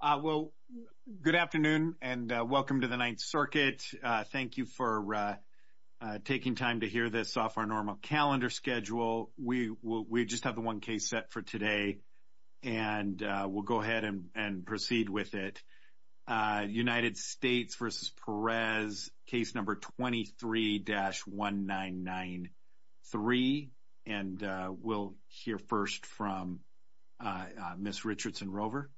Well, good afternoon and welcome to the Ninth Circuit. Thank you for taking time to hear this off our normal calendar schedule. We just have the one case set for today and we'll go ahead and proceed with it. United States v. Perez, case number 23-1993. And we'll hear first from Ms. Richardson-Rover.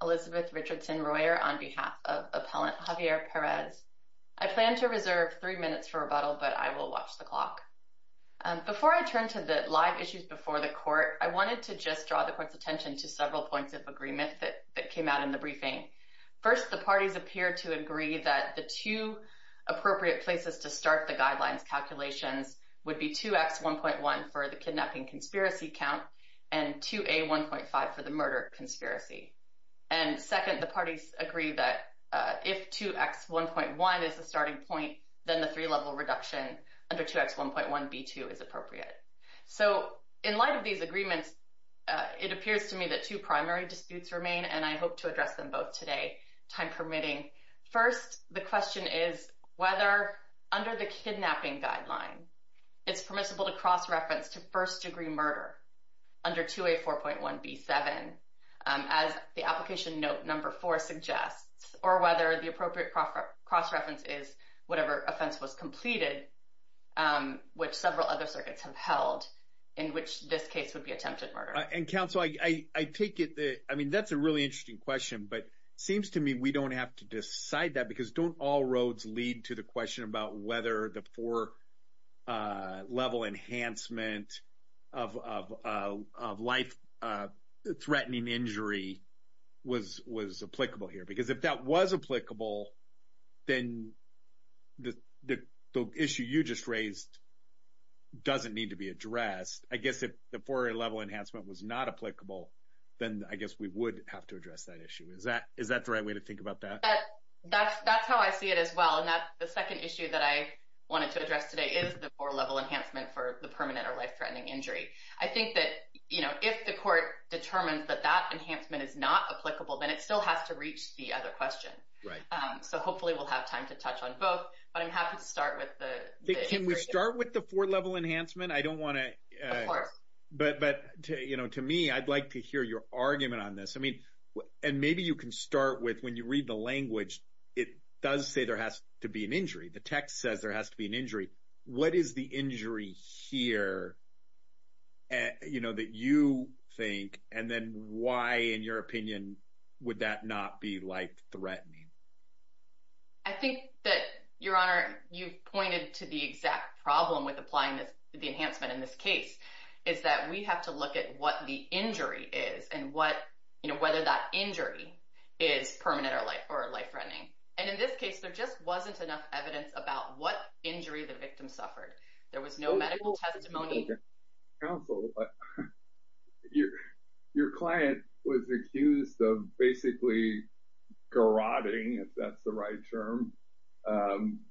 Elizabeth Richardson-Royer, on behalf of Appellant Javier Perez. I plan to reserve three minutes for rebuttal, but I will watch the clock. Before I turn to the live issues before the court, I wanted to just draw the court's attention to several points of agreement that came out in the briefing. First, the parties appear to agree that the two appropriate places to start the guidelines calculations would be 2X1.1 for the kidnapping conspiracy count and 2A1.5 for the murder conspiracy. And second, the parties agree that if 2X1.1 is the starting point, then the three-level reduction under 2X1.1B2 is appropriate. So, in light of these agreements, it appears to me that two primary disputes remain and I hope to address them both today, time permitting. First, the question is whether, under the kidnapping guideline, it's permissible to cross-reference to first-degree murder under 2A4.1B7, as the application note number four suggests, or whether the appropriate cross-reference is whatever offense was completed, which several other circuits have held, in which this case would be attempted murder. And counsel, I take it that, I mean, that's a really interesting question, but seems to me we don't have to decide that because don't all roads lead to the question about whether the four-level enhancement of life-threatening injury was applicable here? Because if that was applicable, then the issue you just raised doesn't need to be addressed. I guess if the four-level enhancement was not applicable, then I guess we would have to address that issue. Is that the right way to think about that? That's how I see it as well. And the second issue that I wanted to address today is the four-level enhancement for the permanent or life-threatening injury. I think that if the court determines that that enhancement is not applicable, then it still has to reach the other question. So hopefully we'll have time to touch on both, but I'm happy to start with the injury. Can we start with the four-level enhancement? Of course. But to me, I'd like to hear your argument on this. And maybe you can start with, when you read the language, it does say there has to be an injury. The text says there has to be an injury. What is the injury here that you think, and then why, in your opinion, would that not be life-threatening? I think that, Your Honor, you've pointed to the exact problem with applying the enhancement in this case, is that we have to look at what the injury is and whether that injury is permanent or life-threatening. And in this case, there just wasn't enough evidence about what injury the victim suffered. There was no medical testimony. Counsel, your client was accused of basically garrotting, if that's the right term,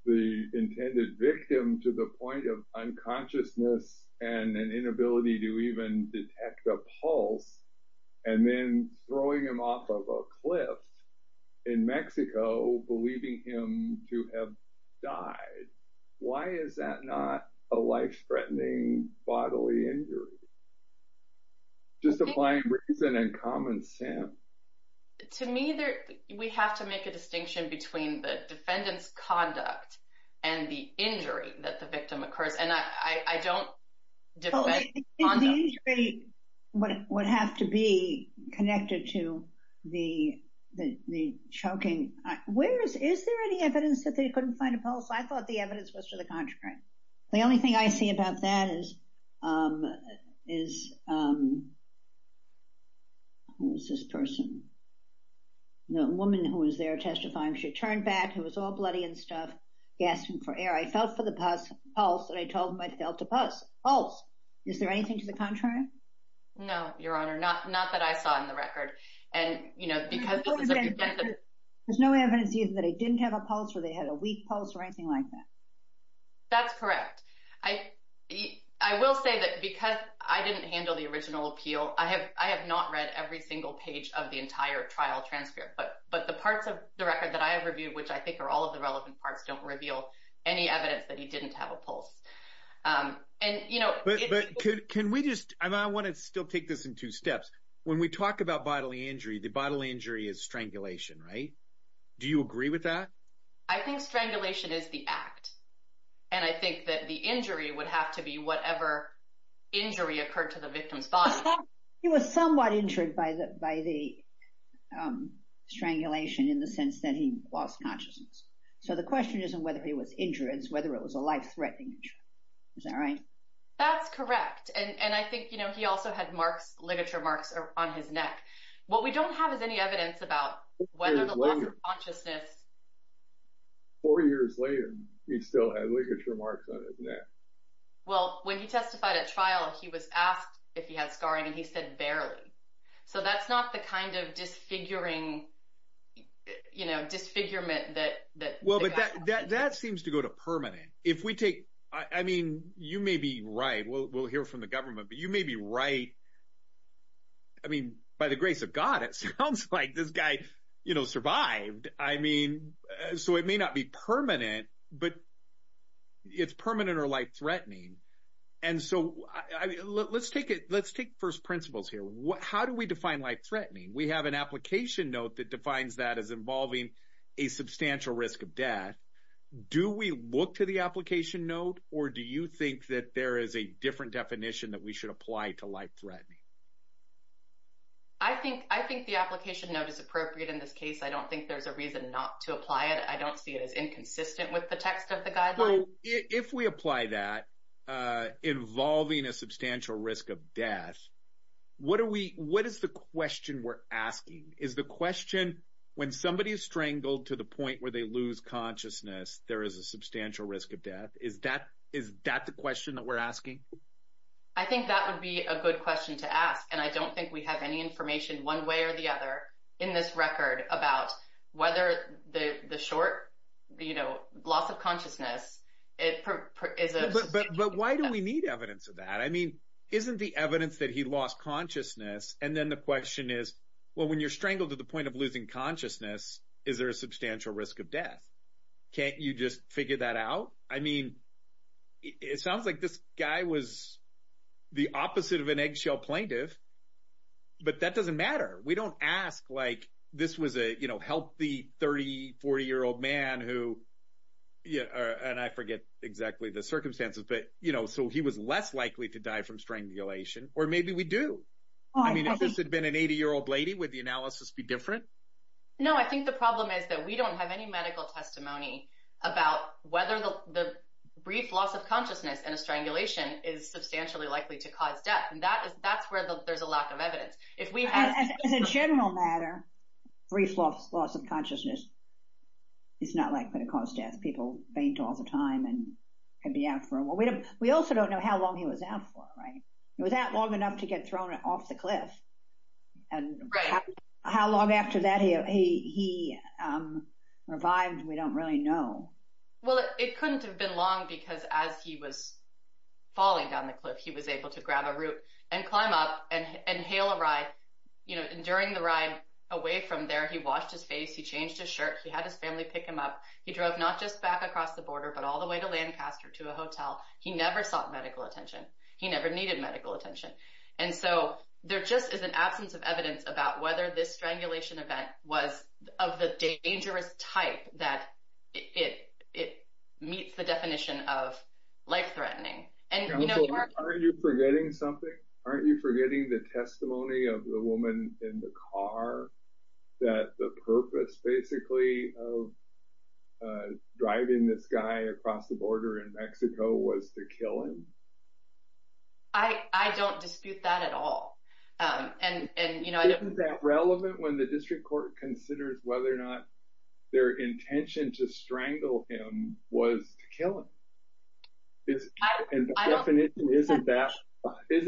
the intended victim to the point of unconsciousness and an inability to even detect a pulse, and then throwing him off of a cliff in Mexico, believing him to have died. Why is that not a life-threatening bodily injury? Just applying reason and common sense. To me, we have to make a distinction between the defendant's conduct and the injury that the victim occurs. And I don't defend conduct. If the injury would have to be connected to the choking, is there any evidence that they couldn't find a pulse? I thought the evidence was to the contrary. The only thing I see about that is, who was this person? The woman who was there testifying, she turned back, who was all bloody and stuff, gasping for air. I felt for the pulse, and I told them I felt a pulse. Is there anything to the contrary? No, Your Honor, not that I saw in the record. There's no evidence either that they didn't have a pulse or they had a weak pulse or anything like that. That's correct. I will say that because I didn't handle the original appeal, I have not read every single page of the entire trial transcript. But the parts of the record that I have reviewed, which I think are all of the relevant parts, don't reveal any evidence that he didn't have a pulse. But can we just – and I want to still take this in two steps. When we talk about bodily injury, the bodily injury is strangulation, right? Do you agree with that? I think strangulation is the act. And I think that the injury would have to be whatever injury occurred to the victim's body. He was somewhat injured by the strangulation in the sense that he lost consciousness. So the question isn't whether he was injured. It's whether it was a life-threatening injury. Is that right? That's correct. And I think he also had ligature marks on his neck. What we don't have is any evidence about whether the loss of consciousness – Four years later, he still had ligature marks on his neck. Well, when he testified at trial, he was asked if he had scarring, and he said barely. So that's not the kind of disfiguring – you know, disfigurement that – Well, but that seems to go to permanent. If we take – I mean, you may be right. We'll hear from the government, but you may be right. I mean, by the grace of God, it sounds like this guy survived. I mean, so it may not be permanent, but it's permanent or life-threatening. And so let's take first principles here. How do we define life-threatening? We have an application note that defines that as involving a substantial risk of death. Do we look to the application note, or do you think that there is a different definition that we should apply to life-threatening? I think the application note is appropriate in this case. I don't think there's a reason not to apply it. I don't see it as inconsistent with the text of the guideline. Well, if we apply that, involving a substantial risk of death, what is the question we're asking? Is the question, when somebody is strangled to the point where they lose consciousness, there is a substantial risk of death? Is that the question that we're asking? I think that would be a good question to ask, and I don't think we have any information one way or the other in this record about whether the short loss of consciousness is a substantial risk of death. But why do we need evidence of that? I mean, isn't the evidence that he lost consciousness, and then the question is, well, when you're strangled to the point of losing consciousness, is there a substantial risk of death? Can't you just figure that out? I mean, it sounds like this guy was the opposite of an eggshell plaintiff, but that doesn't matter. We don't ask, like, this was a, you know, healthy 30-, 40-year-old man who, and I forget exactly the circumstances, but, you know, so he was less likely to die from strangulation, or maybe we do. I mean, if this had been an 80-year-old lady, would the analysis be different? No, I think the problem is that we don't have any medical testimony about whether the brief loss of consciousness in a strangulation is substantially likely to cause death, and that's where there's a lack of evidence. As a general matter, brief loss of consciousness is not likely to cause death. People faint all the time and can be out for a while. We also don't know how long he was out for, right? Was that long enough to get thrown off the cliff? Right. And how long after that he revived, we don't really know. Well, it couldn't have been long because as he was falling down the cliff, he was able to grab a root and climb up and hail a ride, you know, and during the ride, away from there, he washed his face, he changed his shirt, he had his family pick him up. He drove not just back across the border, but all the way to Lancaster to a hotel. He never sought medical attention. He never needed medical attention. And so there just is an absence of evidence about whether this strangulation event was of the dangerous type that it meets the definition of life-threatening. Aren't you forgetting something? Aren't you forgetting the testimony of the woman in the car that the purpose, basically, of driving this guy across the border in Mexico was to kill him? I don't dispute that at all. Isn't that relevant when the district court considers whether or not their intention to strangle him was to kill him? Isn't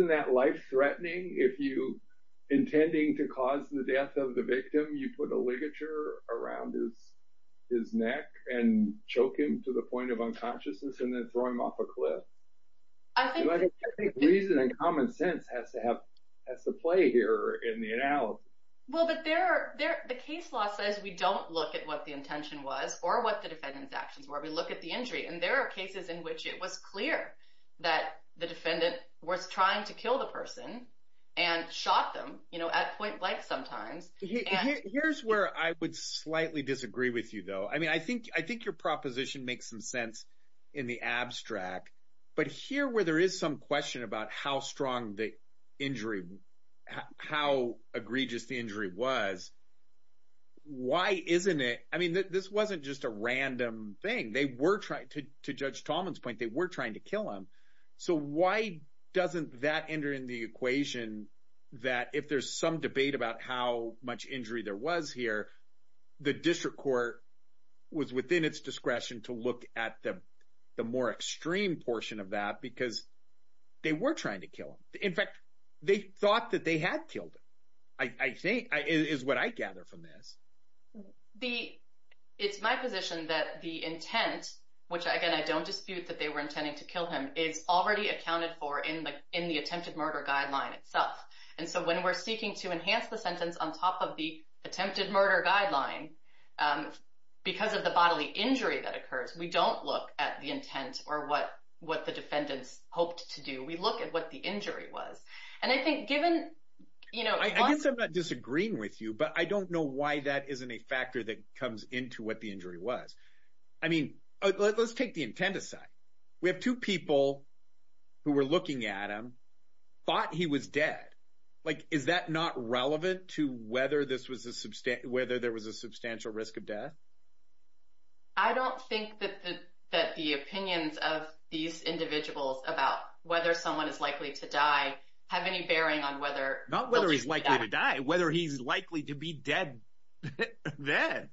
that life-threatening? If you're intending to cause the death of the victim, you put a ligature around his neck and choke him to the point of unconsciousness and then throw him off a cliff? I think reason and common sense has to play here in the analysis. Well, but the case law says we don't look at what the intention was or what the defendant's actions were. We look at the injury. And there are cases in which it was clear that the defendant was trying to kill the person and shot them at point blank sometimes. Here's where I would slightly disagree with you, though. I mean, I think your proposition makes some sense in the abstract. But here where there is some question about how strong the injury, how egregious the injury was, why isn't it – I mean, this wasn't just a random thing. They were – to Judge Tallman's point, they were trying to kill him. So why doesn't that enter in the equation that if there's some debate about how much injury there was here, the district court was within its discretion to look at the more extreme portion of that because they were trying to kill him. In fact, they thought that they had killed him, I think, is what I gather from this. It's my position that the intent, which, again, I don't dispute that they were intending to kill him, is already accounted for in the attempted murder guideline itself. And so when we're seeking to enhance the sentence on top of the attempted murder guideline because of the bodily injury that occurs, we don't look at the intent or what the defendants hoped to do. We look at what the injury was. And I think given – I guess I'm not disagreeing with you, but I don't know why that isn't a factor that comes into what the injury was. I mean, let's take the intent aside. We have two people who were looking at him, thought he was dead. Like, is that not relevant to whether this was a – whether there was a substantial risk of death? I don't think that the opinions of these individuals about whether someone is likely to die have any bearing on whether – Not whether he's likely to die. Whether he's likely to be dead then.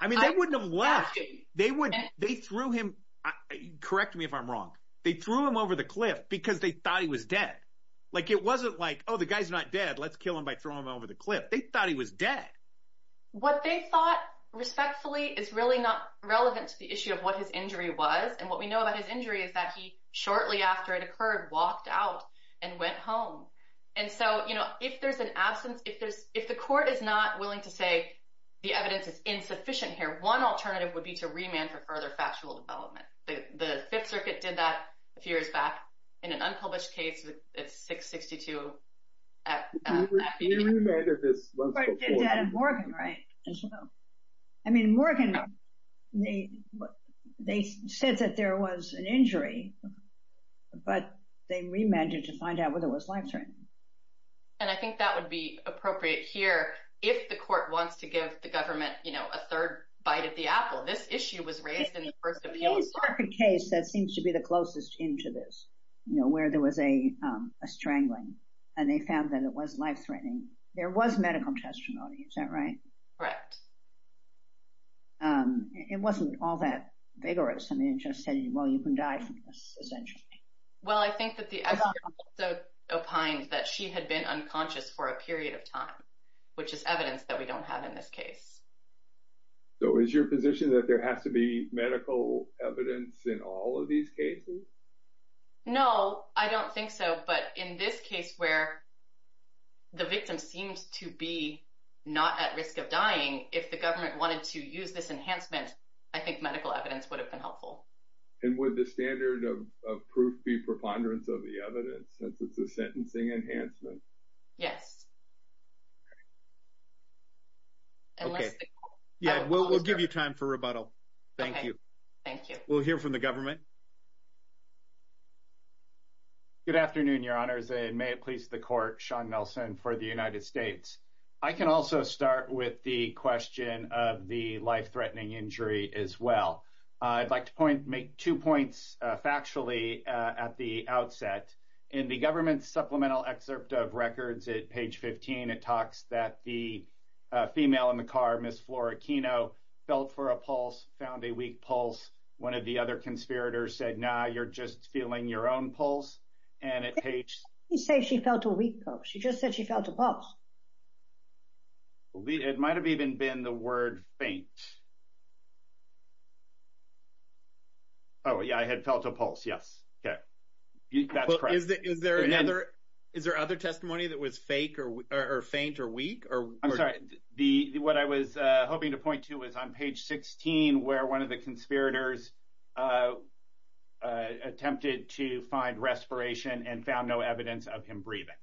I mean, they wouldn't have left. They threw him – correct me if I'm wrong. They threw him over the cliff because they thought he was dead. Like, it wasn't like, oh, the guy's not dead. Let's kill him by throwing him over the cliff. They thought he was dead. What they thought, respectfully, is really not relevant to the issue of what his injury was. And what we know about his injury is that he, shortly after it occurred, walked out and went home. And so, you know, if there's an absence – if the court is not willing to say the evidence is insufficient here, one alternative would be to remand for further factual development. The Fifth Circuit did that a few years back in an unpublished case. It's 662 – We remanded this once before. The court did that in Morgan, right, as well? I mean, in Morgan, they said that there was an injury, but they remanded to find out whether it was life-threatening. And I think that would be appropriate here. If the court wants to give the government, you know, a third bite of the apple, this issue was raised in the first appeal. They started a case that seems to be the closest into this, you know, where there was a strangling, and they found that it was life-threatening. There was medical testimony, is that right? Correct. It wasn't all that vigorous. I mean, it just said, well, you can die from this, essentially. Well, I think that the evidence also opines that she had been unconscious for a period of time, which is evidence that we don't have in this case. So is your position that there has to be medical evidence in all of these cases? No, I don't think so. But in this case where the victim seems to be not at risk of dying, if the government wanted to use this enhancement, I think medical evidence would have been helpful. And would the standard of proof be preponderance of the evidence since it's a sentencing enhancement? Yes. Okay. Yeah, we'll give you time for rebuttal. Thank you. Thank you. We'll hear from the government. Good afternoon, Your Honors, and may it please the Court, Sean Nelson for the United States. I can also start with the question of the life-threatening injury as well. I'd like to make two points factually at the outset. In the government's supplemental excerpt of records at page 15, it talks that the female in the car, Ms. Flora Kino, felt for a pulse, found a weak pulse. One of the other conspirators said, no, you're just feeling your own pulse. He said she felt a weak pulse. She just said she felt a pulse. It might have even been the word faint. Oh, yeah, I had felt a pulse, yes. Okay. That's correct. Is there other testimony that was fake or faint or weak? I'm sorry. What I was hoping to point to was on page 16 where one of the conspirators attempted to find respiration and found no evidence of him breathing.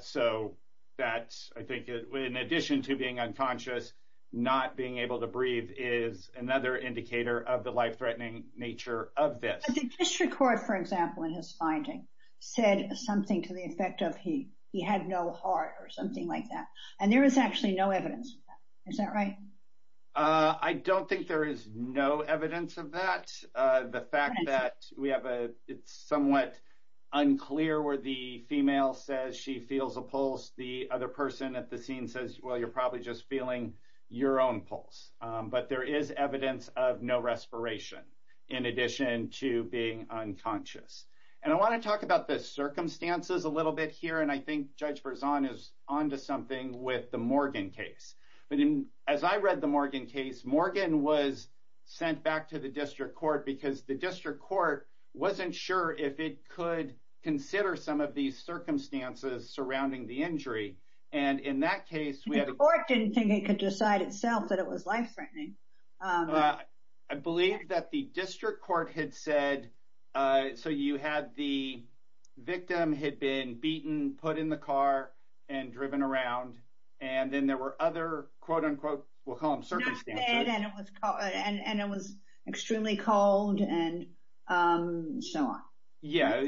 So that's, I think, in addition to being unconscious, not being able to breathe is another indicator of the life-threatening nature of this. The district court, for example, in his finding said something to the effect of he had no heart or something like that, and there is actually no evidence of that. Is that right? I don't think there is no evidence of that. The fact that we have a somewhat unclear where the female says she feels a pulse, the other person at the scene says, well, you're probably just feeling your own pulse. But there is evidence of no respiration in addition to being unconscious. And I want to talk about the circumstances a little bit here, and I think Judge Berzon is on to something with the Morgan case. But as I read the Morgan case, Morgan was sent back to the district court because the district court wasn't sure if it could consider some of these circumstances surrounding the injury. The court didn't think it could decide itself that it was life-threatening. I believe that the district court had said, so you had the victim had been beaten, put in the car, and driven around. And then there were other, quote, unquote, we'll call them circumstances. And it was extremely cold and so on. Yeah,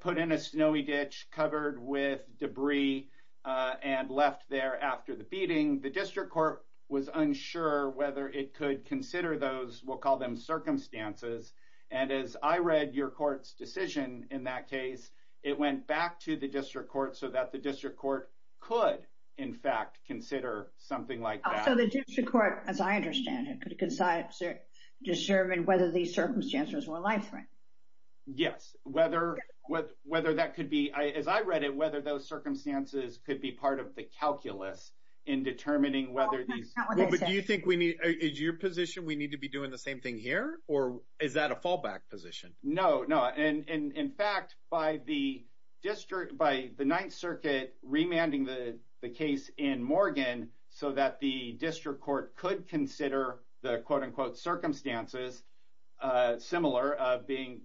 put in a snowy ditch, covered with debris, and left there after the beating. The district court was unsure whether it could consider those, we'll call them circumstances. And as I read your court's decision in that case, it went back to the district court so that the district court could, in fact, consider something like that. So the district court, as I understand it, could decide to determine whether these circumstances were life-threatening. Yes, whether that could be, as I read it, whether those circumstances could be part of the calculus in determining whether these. But do you think we need, is your position we need to be doing the same thing here? Or is that a fallback position? No, no. And in fact, by the district, by the Ninth Circuit remanding the case in Morgan so that the district court could consider the, quote, unquote, circumstances, which is similar, of being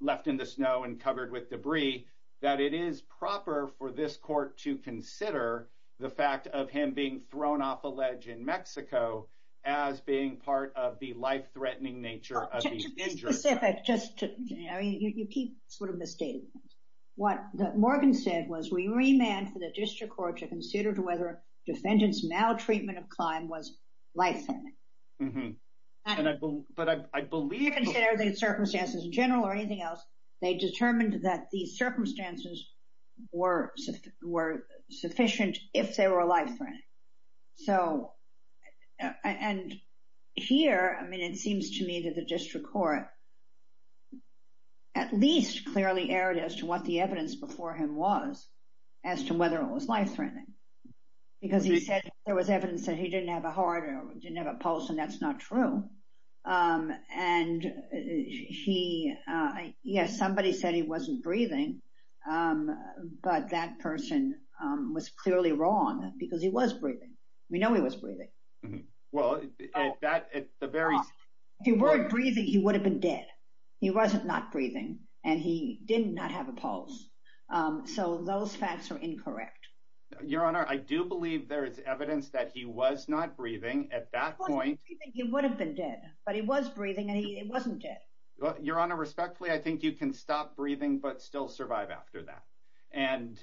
left in the snow and covered with debris, that it is proper for this court to consider the fact of him being thrown off a ledge in Mexico as being part of the life-threatening nature of the injured. Specific, just to, I mean, you keep sort of misstating it. What Morgan said was we remand for the district court to consider whether defendant's maltreatment of crime was life-threatening. Mm-hmm. But I believe. To consider the circumstances in general or anything else, they determined that these circumstances were sufficient if they were life-threatening. So, and here, I mean, it seems to me that the district court at least clearly erred as to what the evidence before him was as to whether it was life-threatening because he said there was evidence that he didn't have a heart or didn't have a pulse, and that's not true. And he, yes, somebody said he wasn't breathing, but that person was clearly wrong because he was breathing. We know he was breathing. Well, that, at the very. If he weren't breathing, he would have been dead. He wasn't not breathing, and he did not have a pulse. So those facts are incorrect. Your Honor, I do believe there is evidence that he was not breathing at that point. He would have been dead, but he was breathing, and he wasn't dead. Your Honor, respectfully, I think you can stop breathing but still survive after that. And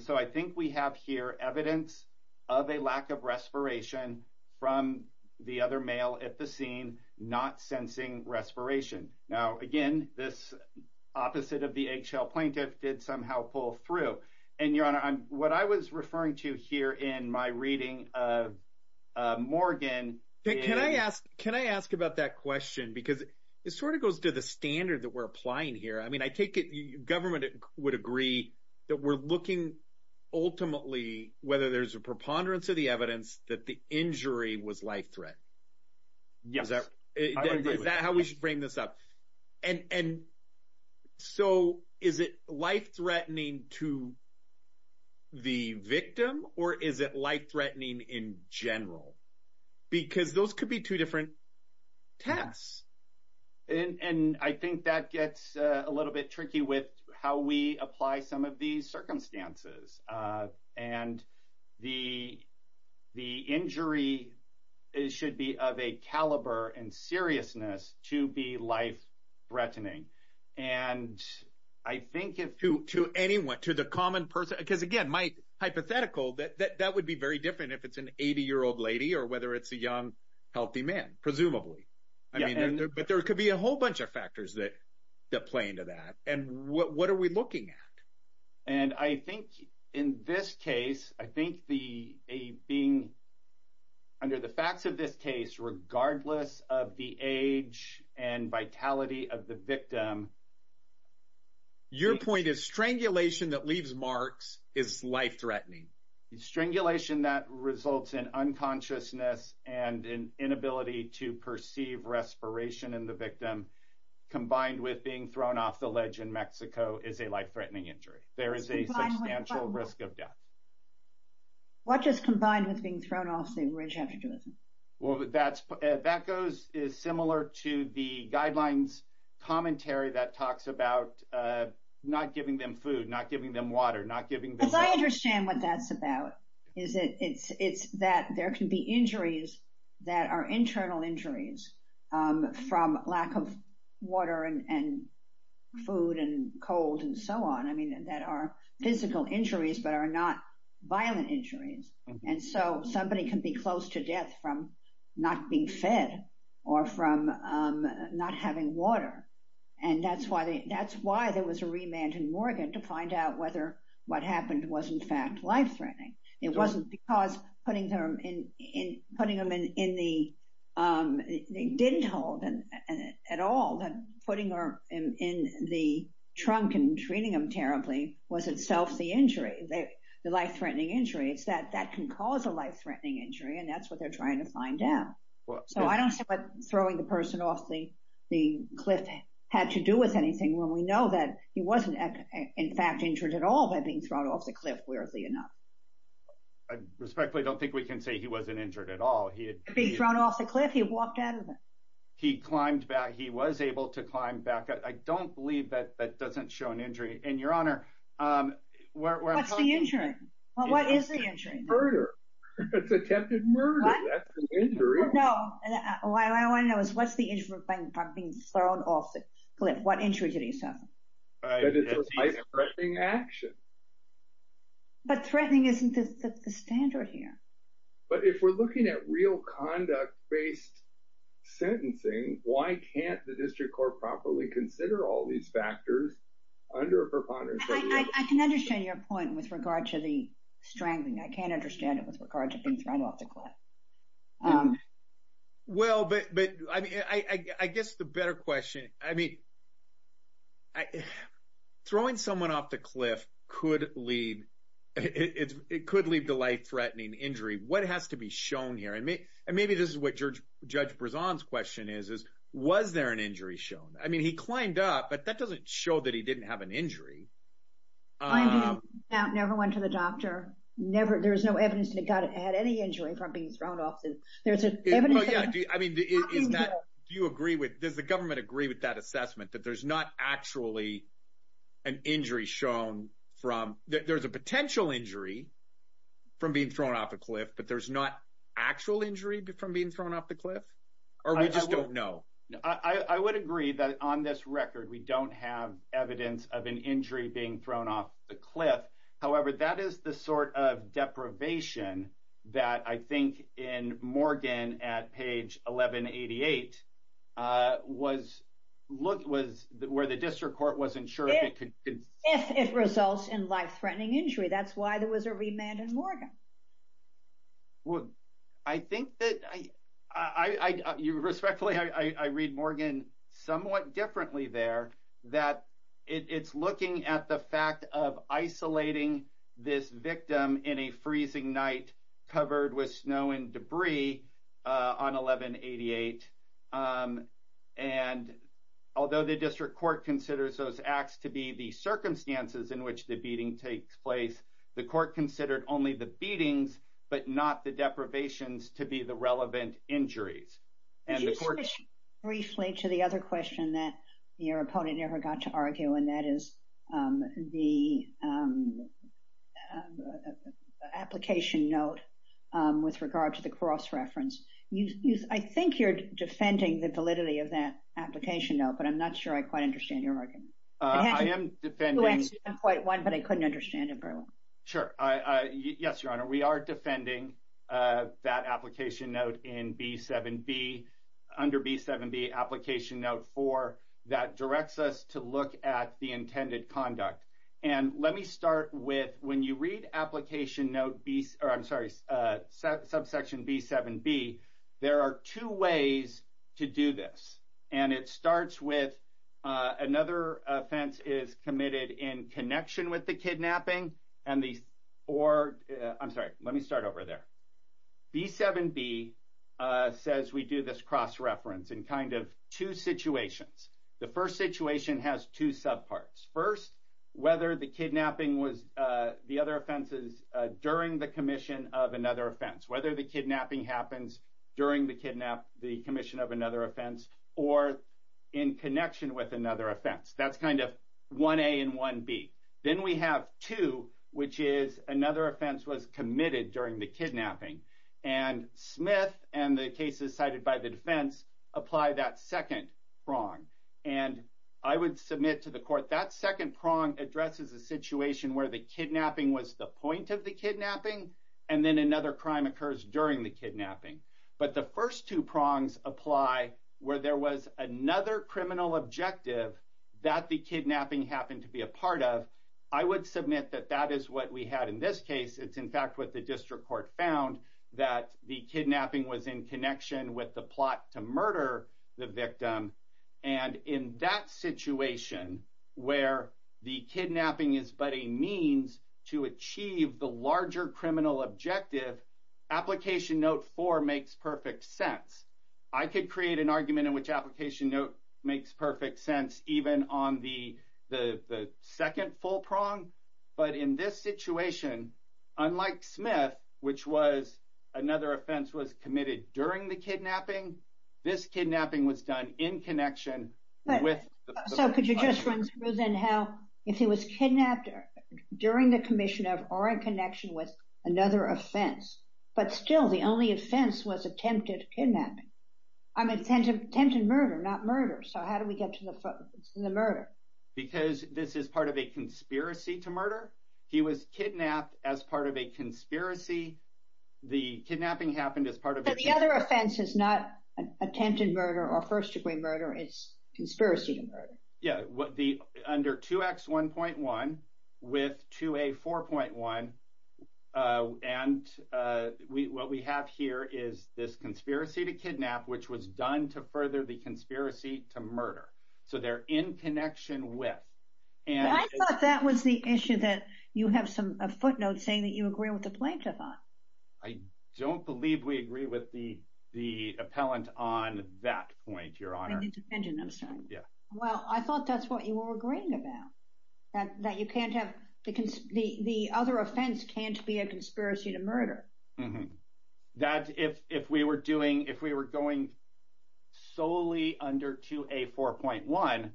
so I think we have here evidence of a lack of respiration from the other male at the scene not sensing respiration. Now, again, this opposite of the eggshell plaintiff did somehow pull through. And, Your Honor, what I was referring to here in my reading of Morgan is... Can I ask about that question? Because it sort of goes to the standard that we're applying here. I mean, I take it the government would agree that we're looking ultimately whether there's a preponderance of the evidence that the injury was life threat. Yes. Is that how we should frame this up? And so is it life-threatening to the victim, or is it life-threatening in general? Because those could be two different tests. And I think that gets a little bit tricky with how we apply some of these circumstances. And the injury should be of a caliber and seriousness to be life-threatening. And I think if... To anyone, to the common person? Because, again, hypothetical, that would be very different if it's an 80-year-old lady or whether it's a young, healthy man, presumably. But there could be a whole bunch of factors that play into that. And what are we looking at? And I think in this case, I think under the facts of this case, regardless of the age and vitality of the victim... Your point is strangulation that leaves marks is life-threatening. Strangulation that results in unconsciousness and an inability to perceive respiration in the victim, combined with being thrown off the ledge in Mexico, is a life-threatening injury. There is a substantial risk of death. What does combined with being thrown off the ledge have to do with it? Well, that goes similar to the guidelines commentary that talks about not giving them food, not giving them water, not giving them... Because I understand what that's about. It's that there can be injuries that are internal injuries from lack of water and food and cold and so on, I mean, that are physical injuries but are not violent injuries. And so somebody can be close to death from not being fed or from not having water. And that's why there was a remand in Oregon to find out whether what happened was in fact life-threatening. It wasn't because putting them in the... They didn't hold at all. Putting them in the trunk and treating them terribly was itself the injury, the life-threatening injury. It's that that can cause a life-threatening injury, and that's what they're trying to find out. So I don't see what throwing the person off the cliff had to do with anything when we know that he wasn't in fact injured at all by being thrown off the cliff, wearily enough. I respectfully don't think we can say he wasn't injured at all. He had been thrown off the cliff. He had walked out of it. He climbed back. He was able to climb back. I don't believe that that doesn't show an injury. And, Your Honor... What's the injury? What is the injury? Murder. It's attempted murder. That's an injury. No. What I want to know is what's the injury from being thrown off the cliff? What injury did he suffer? That it's a life-threatening action. But threatening isn't the standard here. But if we're looking at real conduct-based sentencing, why can't the district court properly consider all these factors under a preponderance... I can understand your point with regard to the strangling. I can't understand it with regard to being thrown off the cliff. Well, but... I guess the better question... I mean... Throwing someone off the cliff could lead... It could lead to life-threatening injury. What has to be shown here? And maybe this is what Judge Brezon's question is. Was there an injury shown? I mean, he climbed up, but that doesn't show that he didn't have an injury. Climbing up never went to the doctor. There's no evidence that he had any injury from being thrown off the cliff. There's evidence that... I mean, is that... Do you agree with... Does the government agree with that assessment, that there's not actually an injury shown from... There's a potential injury from being thrown off the cliff, but there's not actual injury from being thrown off the cliff? Or we just don't know? I would agree that on this record, we don't have evidence of an injury being thrown off the cliff. However, that is the sort of deprivation that I think in Morgan at page 1188 was... where the district court wasn't sure if it could... If it results in life-threatening injury. That's why there was a remand in Morgan. Well, I think that... Respectfully, I read Morgan somewhat differently there, that it's looking at the fact of isolating this victim in a freezing night, covered with snow and debris on 1188. And although the district court considers those acts to be the circumstances in which the beating takes place, the court considered only the beatings, but not the deprivations to be the relevant injuries. Could you switch briefly to the other question that your opponent never got to argue, and that is the application note with regard to the cross-reference. I think you're defending the validity of that application note, but I'm not sure I quite understand your argument. I am defending... You answered point one, but I couldn't understand it very well. Sure. Yes, Your Honor, we are defending that application note in B7B, under B7B, application note four, that directs us to look at the intended conduct. And let me start with, when you read application note B... I'm sorry, subsection B7B, there are two ways to do this. And it starts with another offense is committed in connection with the kidnapping, and the... or... I'm sorry, let me start over there. B7B says we do this cross-reference in kind of two situations. The first situation has two subparts. First, whether the kidnapping was the other offenses during the commission of another offense, whether the kidnapping happens during the commission of another offense, or in connection with another offense. That's kind of 1A and 1B. Then we have two, which is another offense was committed during the kidnapping. And Smith and the cases cited by the defense apply that second prong. And I would submit to the court, that second prong addresses a situation where the kidnapping was the point of the kidnapping, and then another crime occurs during the kidnapping. But the first two prongs apply where there was another criminal objective that the kidnapping happened to be a part of. I would submit that that is what we had in this case. It's, in fact, what the district court found, that the kidnapping was in connection with the plot to murder the victim. And in that situation, where the kidnapping is but a means to achieve the larger criminal objective, Application Note 4 makes perfect sense. I could create an argument in which Application Note makes perfect sense, even on the second full prong. But in this situation, unlike Smith, which was another offense was committed during the kidnapping, this kidnapping was done in connection with the plot. So could you just run through then how, if he was kidnapped during the commission or in connection with another offense, but still the only offense was attempted murder, not murder. So how do we get to the murder? Because this is part of a conspiracy to murder. He was kidnapped as part of a conspiracy. The kidnapping happened as part of a conspiracy. But the other offense is not attempted murder or first-degree murder. It's conspiracy to murder. Yeah, under 2X1.1 with 2A4.1. And what we have here is this conspiracy to kidnap, which was done to further the conspiracy to murder. So they're in connection with. I thought that was the issue that you have some footnotes saying that you agree with the plaintiff on. I don't believe we agree with the appellant on that point, Your Honor. Well, I thought that's what you were agreeing about, that the other offense can't be a conspiracy to murder. That if we were going solely under 2A4.1,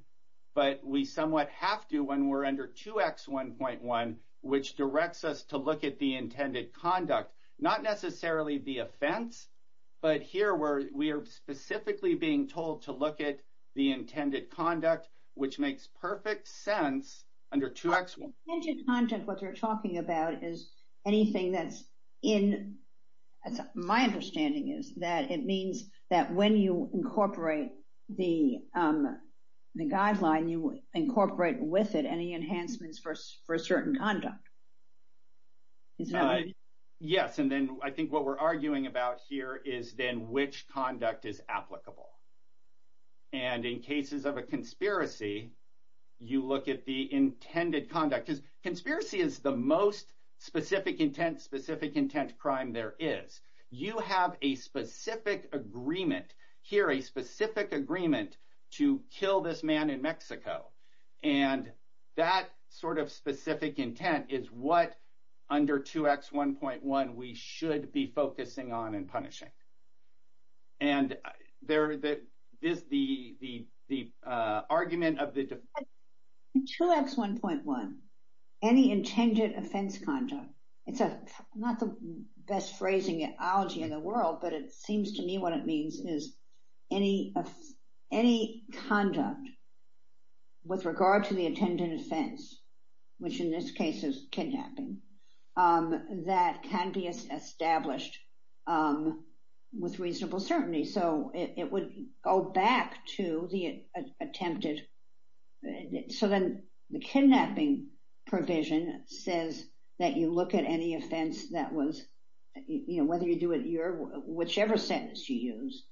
but we somewhat have to when we're under 2X1.1, which directs us to look at the intended conduct, not necessarily the offense, but here we are specifically being told to look at the intended conduct, which makes perfect sense under 2X1. The intended conduct, what you're talking about, is anything that's in my understanding is that it means that when you incorporate the guideline, when you incorporate with it any enhancements for a certain conduct. Yes, and then I think what we're arguing about here is then which conduct is applicable. And in cases of a conspiracy, you look at the intended conduct. Because conspiracy is the most specific intent, specific intent crime there is. You have a specific agreement, here a specific agreement to kill this man in Mexico. And that sort of specific intent is what under 2X1.1 we should be focusing on and punishing. And there is the argument of the defense. In 2X1.1, any intended offense conduct, it's not the best phrasing in the world, but it seems to me what it means is any conduct with regard to the intended offense, which in this case is kidnapping, that can be established with reasonable certainty. So it would go back to the attempted. So then the kidnapping provision says that you look at any offense that was, you know, whether you do it your, whichever sentence you use,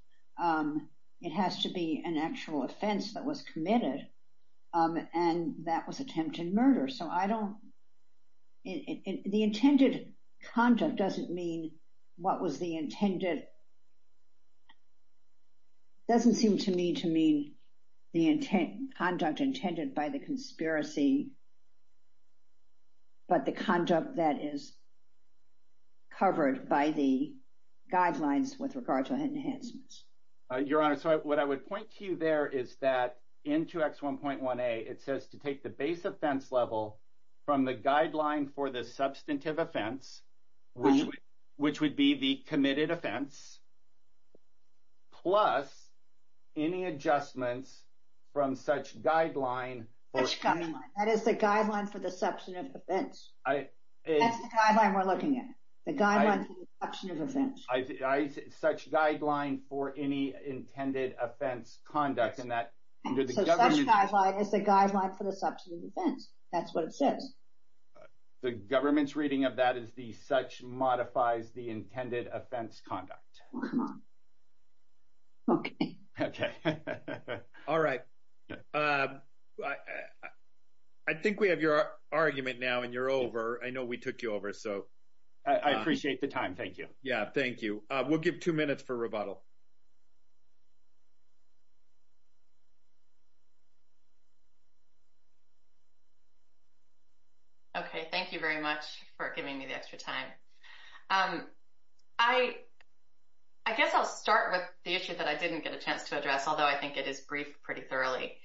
it has to be an actual offense that was committed, and that was attempted murder. So I don't, the intended conduct doesn't mean what was the intended, doesn't seem to me to mean the conduct intended by the conspiracy, but the conduct that is covered by the guidelines with regard to enhancements. Your Honor, so what I would point to you there is that in 2X1.1a, it says to take the base offense level from the guideline for the substantive offense, which would be the committed offense, plus any adjustments from such guideline. That is the guideline for the substantive offense. That's the guideline we're looking at. The guideline for the substantive offense. Such guideline for any intended offense conduct. So such guideline is the guideline for the substantive offense. That's what it says. The government's reading of that is the such modifies the intended offense conduct. Okay. Okay. All right. I think we have your argument now and you're over. I know we took you over, so. I appreciate the time. Thank you. Yeah, thank you. We'll give two minutes for rebuttal. Okay. Thank you very much for giving me the extra time. I guess I'll start with the issue that I didn't get a chance to address, although I think it is briefed pretty thoroughly.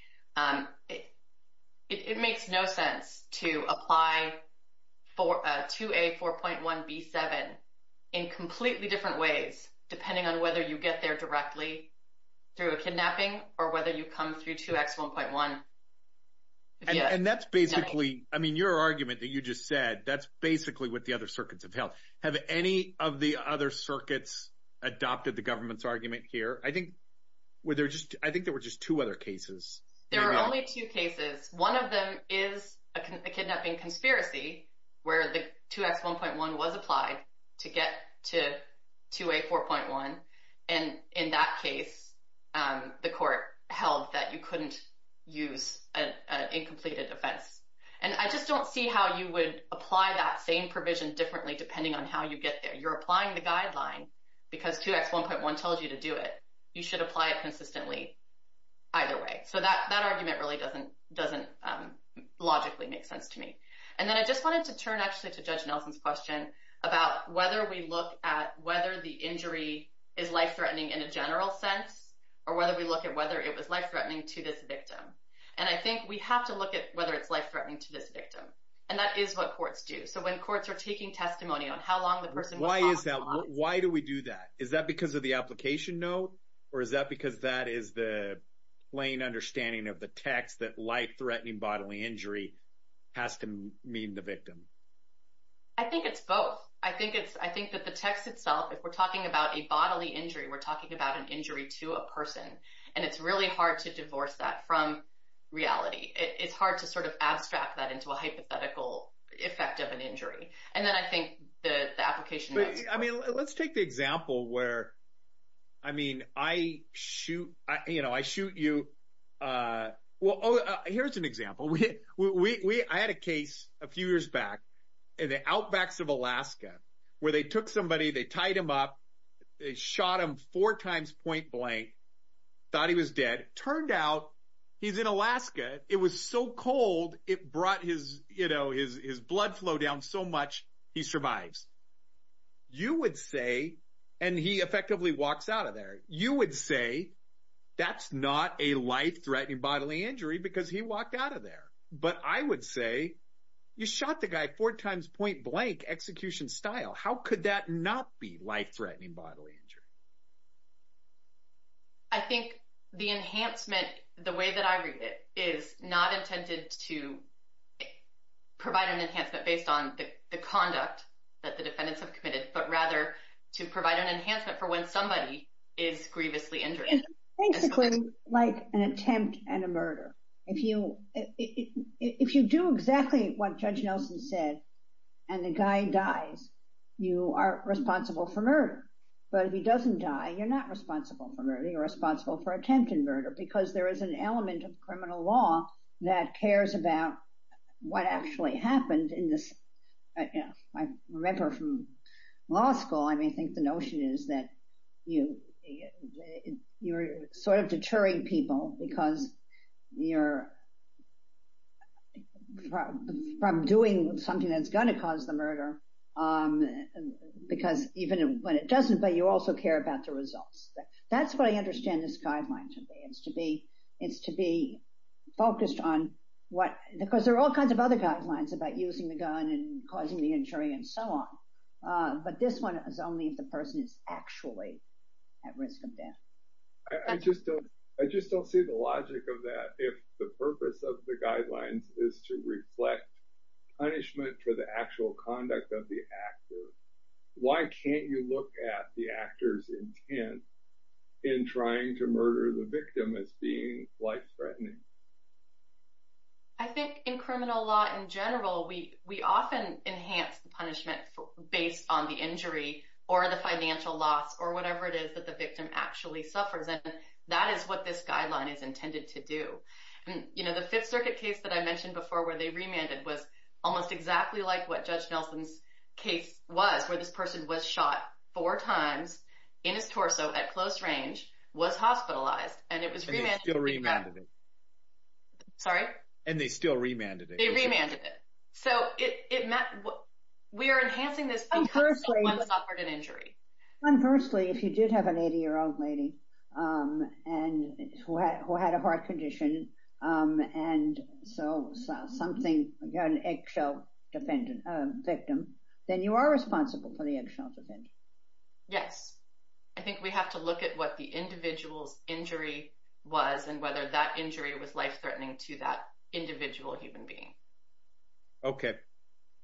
It makes no sense to apply 2A4.1b7 in completely different ways, depending on whether you get there directly through a kidnapping or whether you come through 2X1.1. And that's basically, I mean, your argument that you just said, that's basically what the other circuits have held. Have any of the other circuits adopted the government's argument here? I think there were just two other cases. There were only two cases. One of them is a kidnapping conspiracy, where the 2X1.1 was applied to get to 2A4.1. And in that case, the court held that you couldn't use an incompleted offense. And I just don't see how you would apply that same provision differently depending on how you get there. You're applying the guideline because 2X1.1 tells you to do it. You should apply it consistently either way. So that argument really doesn't logically make sense to me. And then I just wanted to turn actually to Judge Nelson's question about whether we look at whether the injury is life-threatening in a general sense or whether we look at whether it was life-threatening to this victim. And I think we have to look at whether it's life-threatening to this victim. And that is what courts do. So when courts are taking testimony on how long the person was hospitalized. Why is that? Why do we do that? Is that because of the application note? Or is that because that is the plain understanding of the text that life-threatening bodily injury has to mean the victim? I think it's both. I think that the text itself, if we're talking about a bodily injury, we're talking about an injury to a person. And it's really hard to divorce that from reality. It's hard to sort of abstract that into a hypothetical effect of an injury. And then I think the application notes. But, I mean, let's take the example where, I mean, I shoot you. Well, here's an example. I had a case a few years back in the outbacks of Alaska where they took somebody, they tied him up, they shot him four times point-blank, thought he was dead. Turned out, he's in Alaska, it was so cold, it brought his blood flow down so much, he survives. You would say, and he effectively walks out of there, you would say that's not a life-threatening bodily injury because he walked out of there. But I would say you shot the guy four times point-blank execution style. How could that not be life-threatening bodily injury? I think the enhancement, the way that I read it, is not intended to provide an enhancement based on the conduct that the defendants have committed, but rather to provide an enhancement for when somebody is grievously injured. It's basically like an attempt at a murder. If you do exactly what Judge Nelson said and the guy dies, you are responsible for murder. But if he doesn't die, you're not responsible for murder. You're responsible for attempt at murder because there is an element of criminal law that cares about what actually happened in this. I remember from law school, I mean, I think the notion is that you're sort of deterring people because you're from doing something that's going to cause the murder because even when it doesn't, but you also care about the results. That's what I understand this guideline to be. It's to be focused on what – because there are all kinds of other guidelines about using the gun and causing the injury and so on. But this one is only if the person is actually at risk of death. I just don't see the logic of that. If the purpose of the guidelines is to reflect punishment for the actual conduct of the actor, why can't you look at the actor's intent in trying to murder the victim as being life-threatening? I think in criminal law in general, we often enhance the punishment based on the injury or the financial loss or whatever it is that the victim actually suffers. That is what this guideline is intended to do. The Fifth Circuit case that I mentioned before where they remanded was almost exactly like what Judge Nelson's case was, where this person was shot four times in his torso at close range, was hospitalized, and it was remanded. And they still remanded it. Sorry? And they still remanded it. They remanded it. So we are enhancing this because someone suffered an injury. Conversely, if you did have an 80-year-old lady who had a heart condition and so something, an eggshell victim, then you are responsible for the eggshell defendant. Yes. I think we have to look at what the individual's injury was and whether that injury was life-threatening to that individual human being. Okay.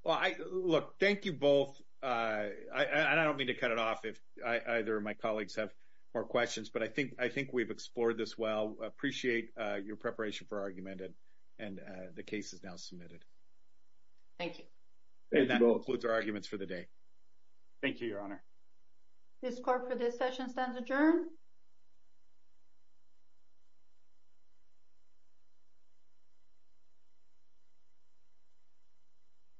Well, look, thank you both. And I don't mean to cut it off if either of my colleagues have more questions, but I think we've explored this well. Appreciate your preparation for argument, and the case is now submitted. Thank you. And that concludes our arguments for the day. Thank you, Your Honor. This court for this session stands adjourned.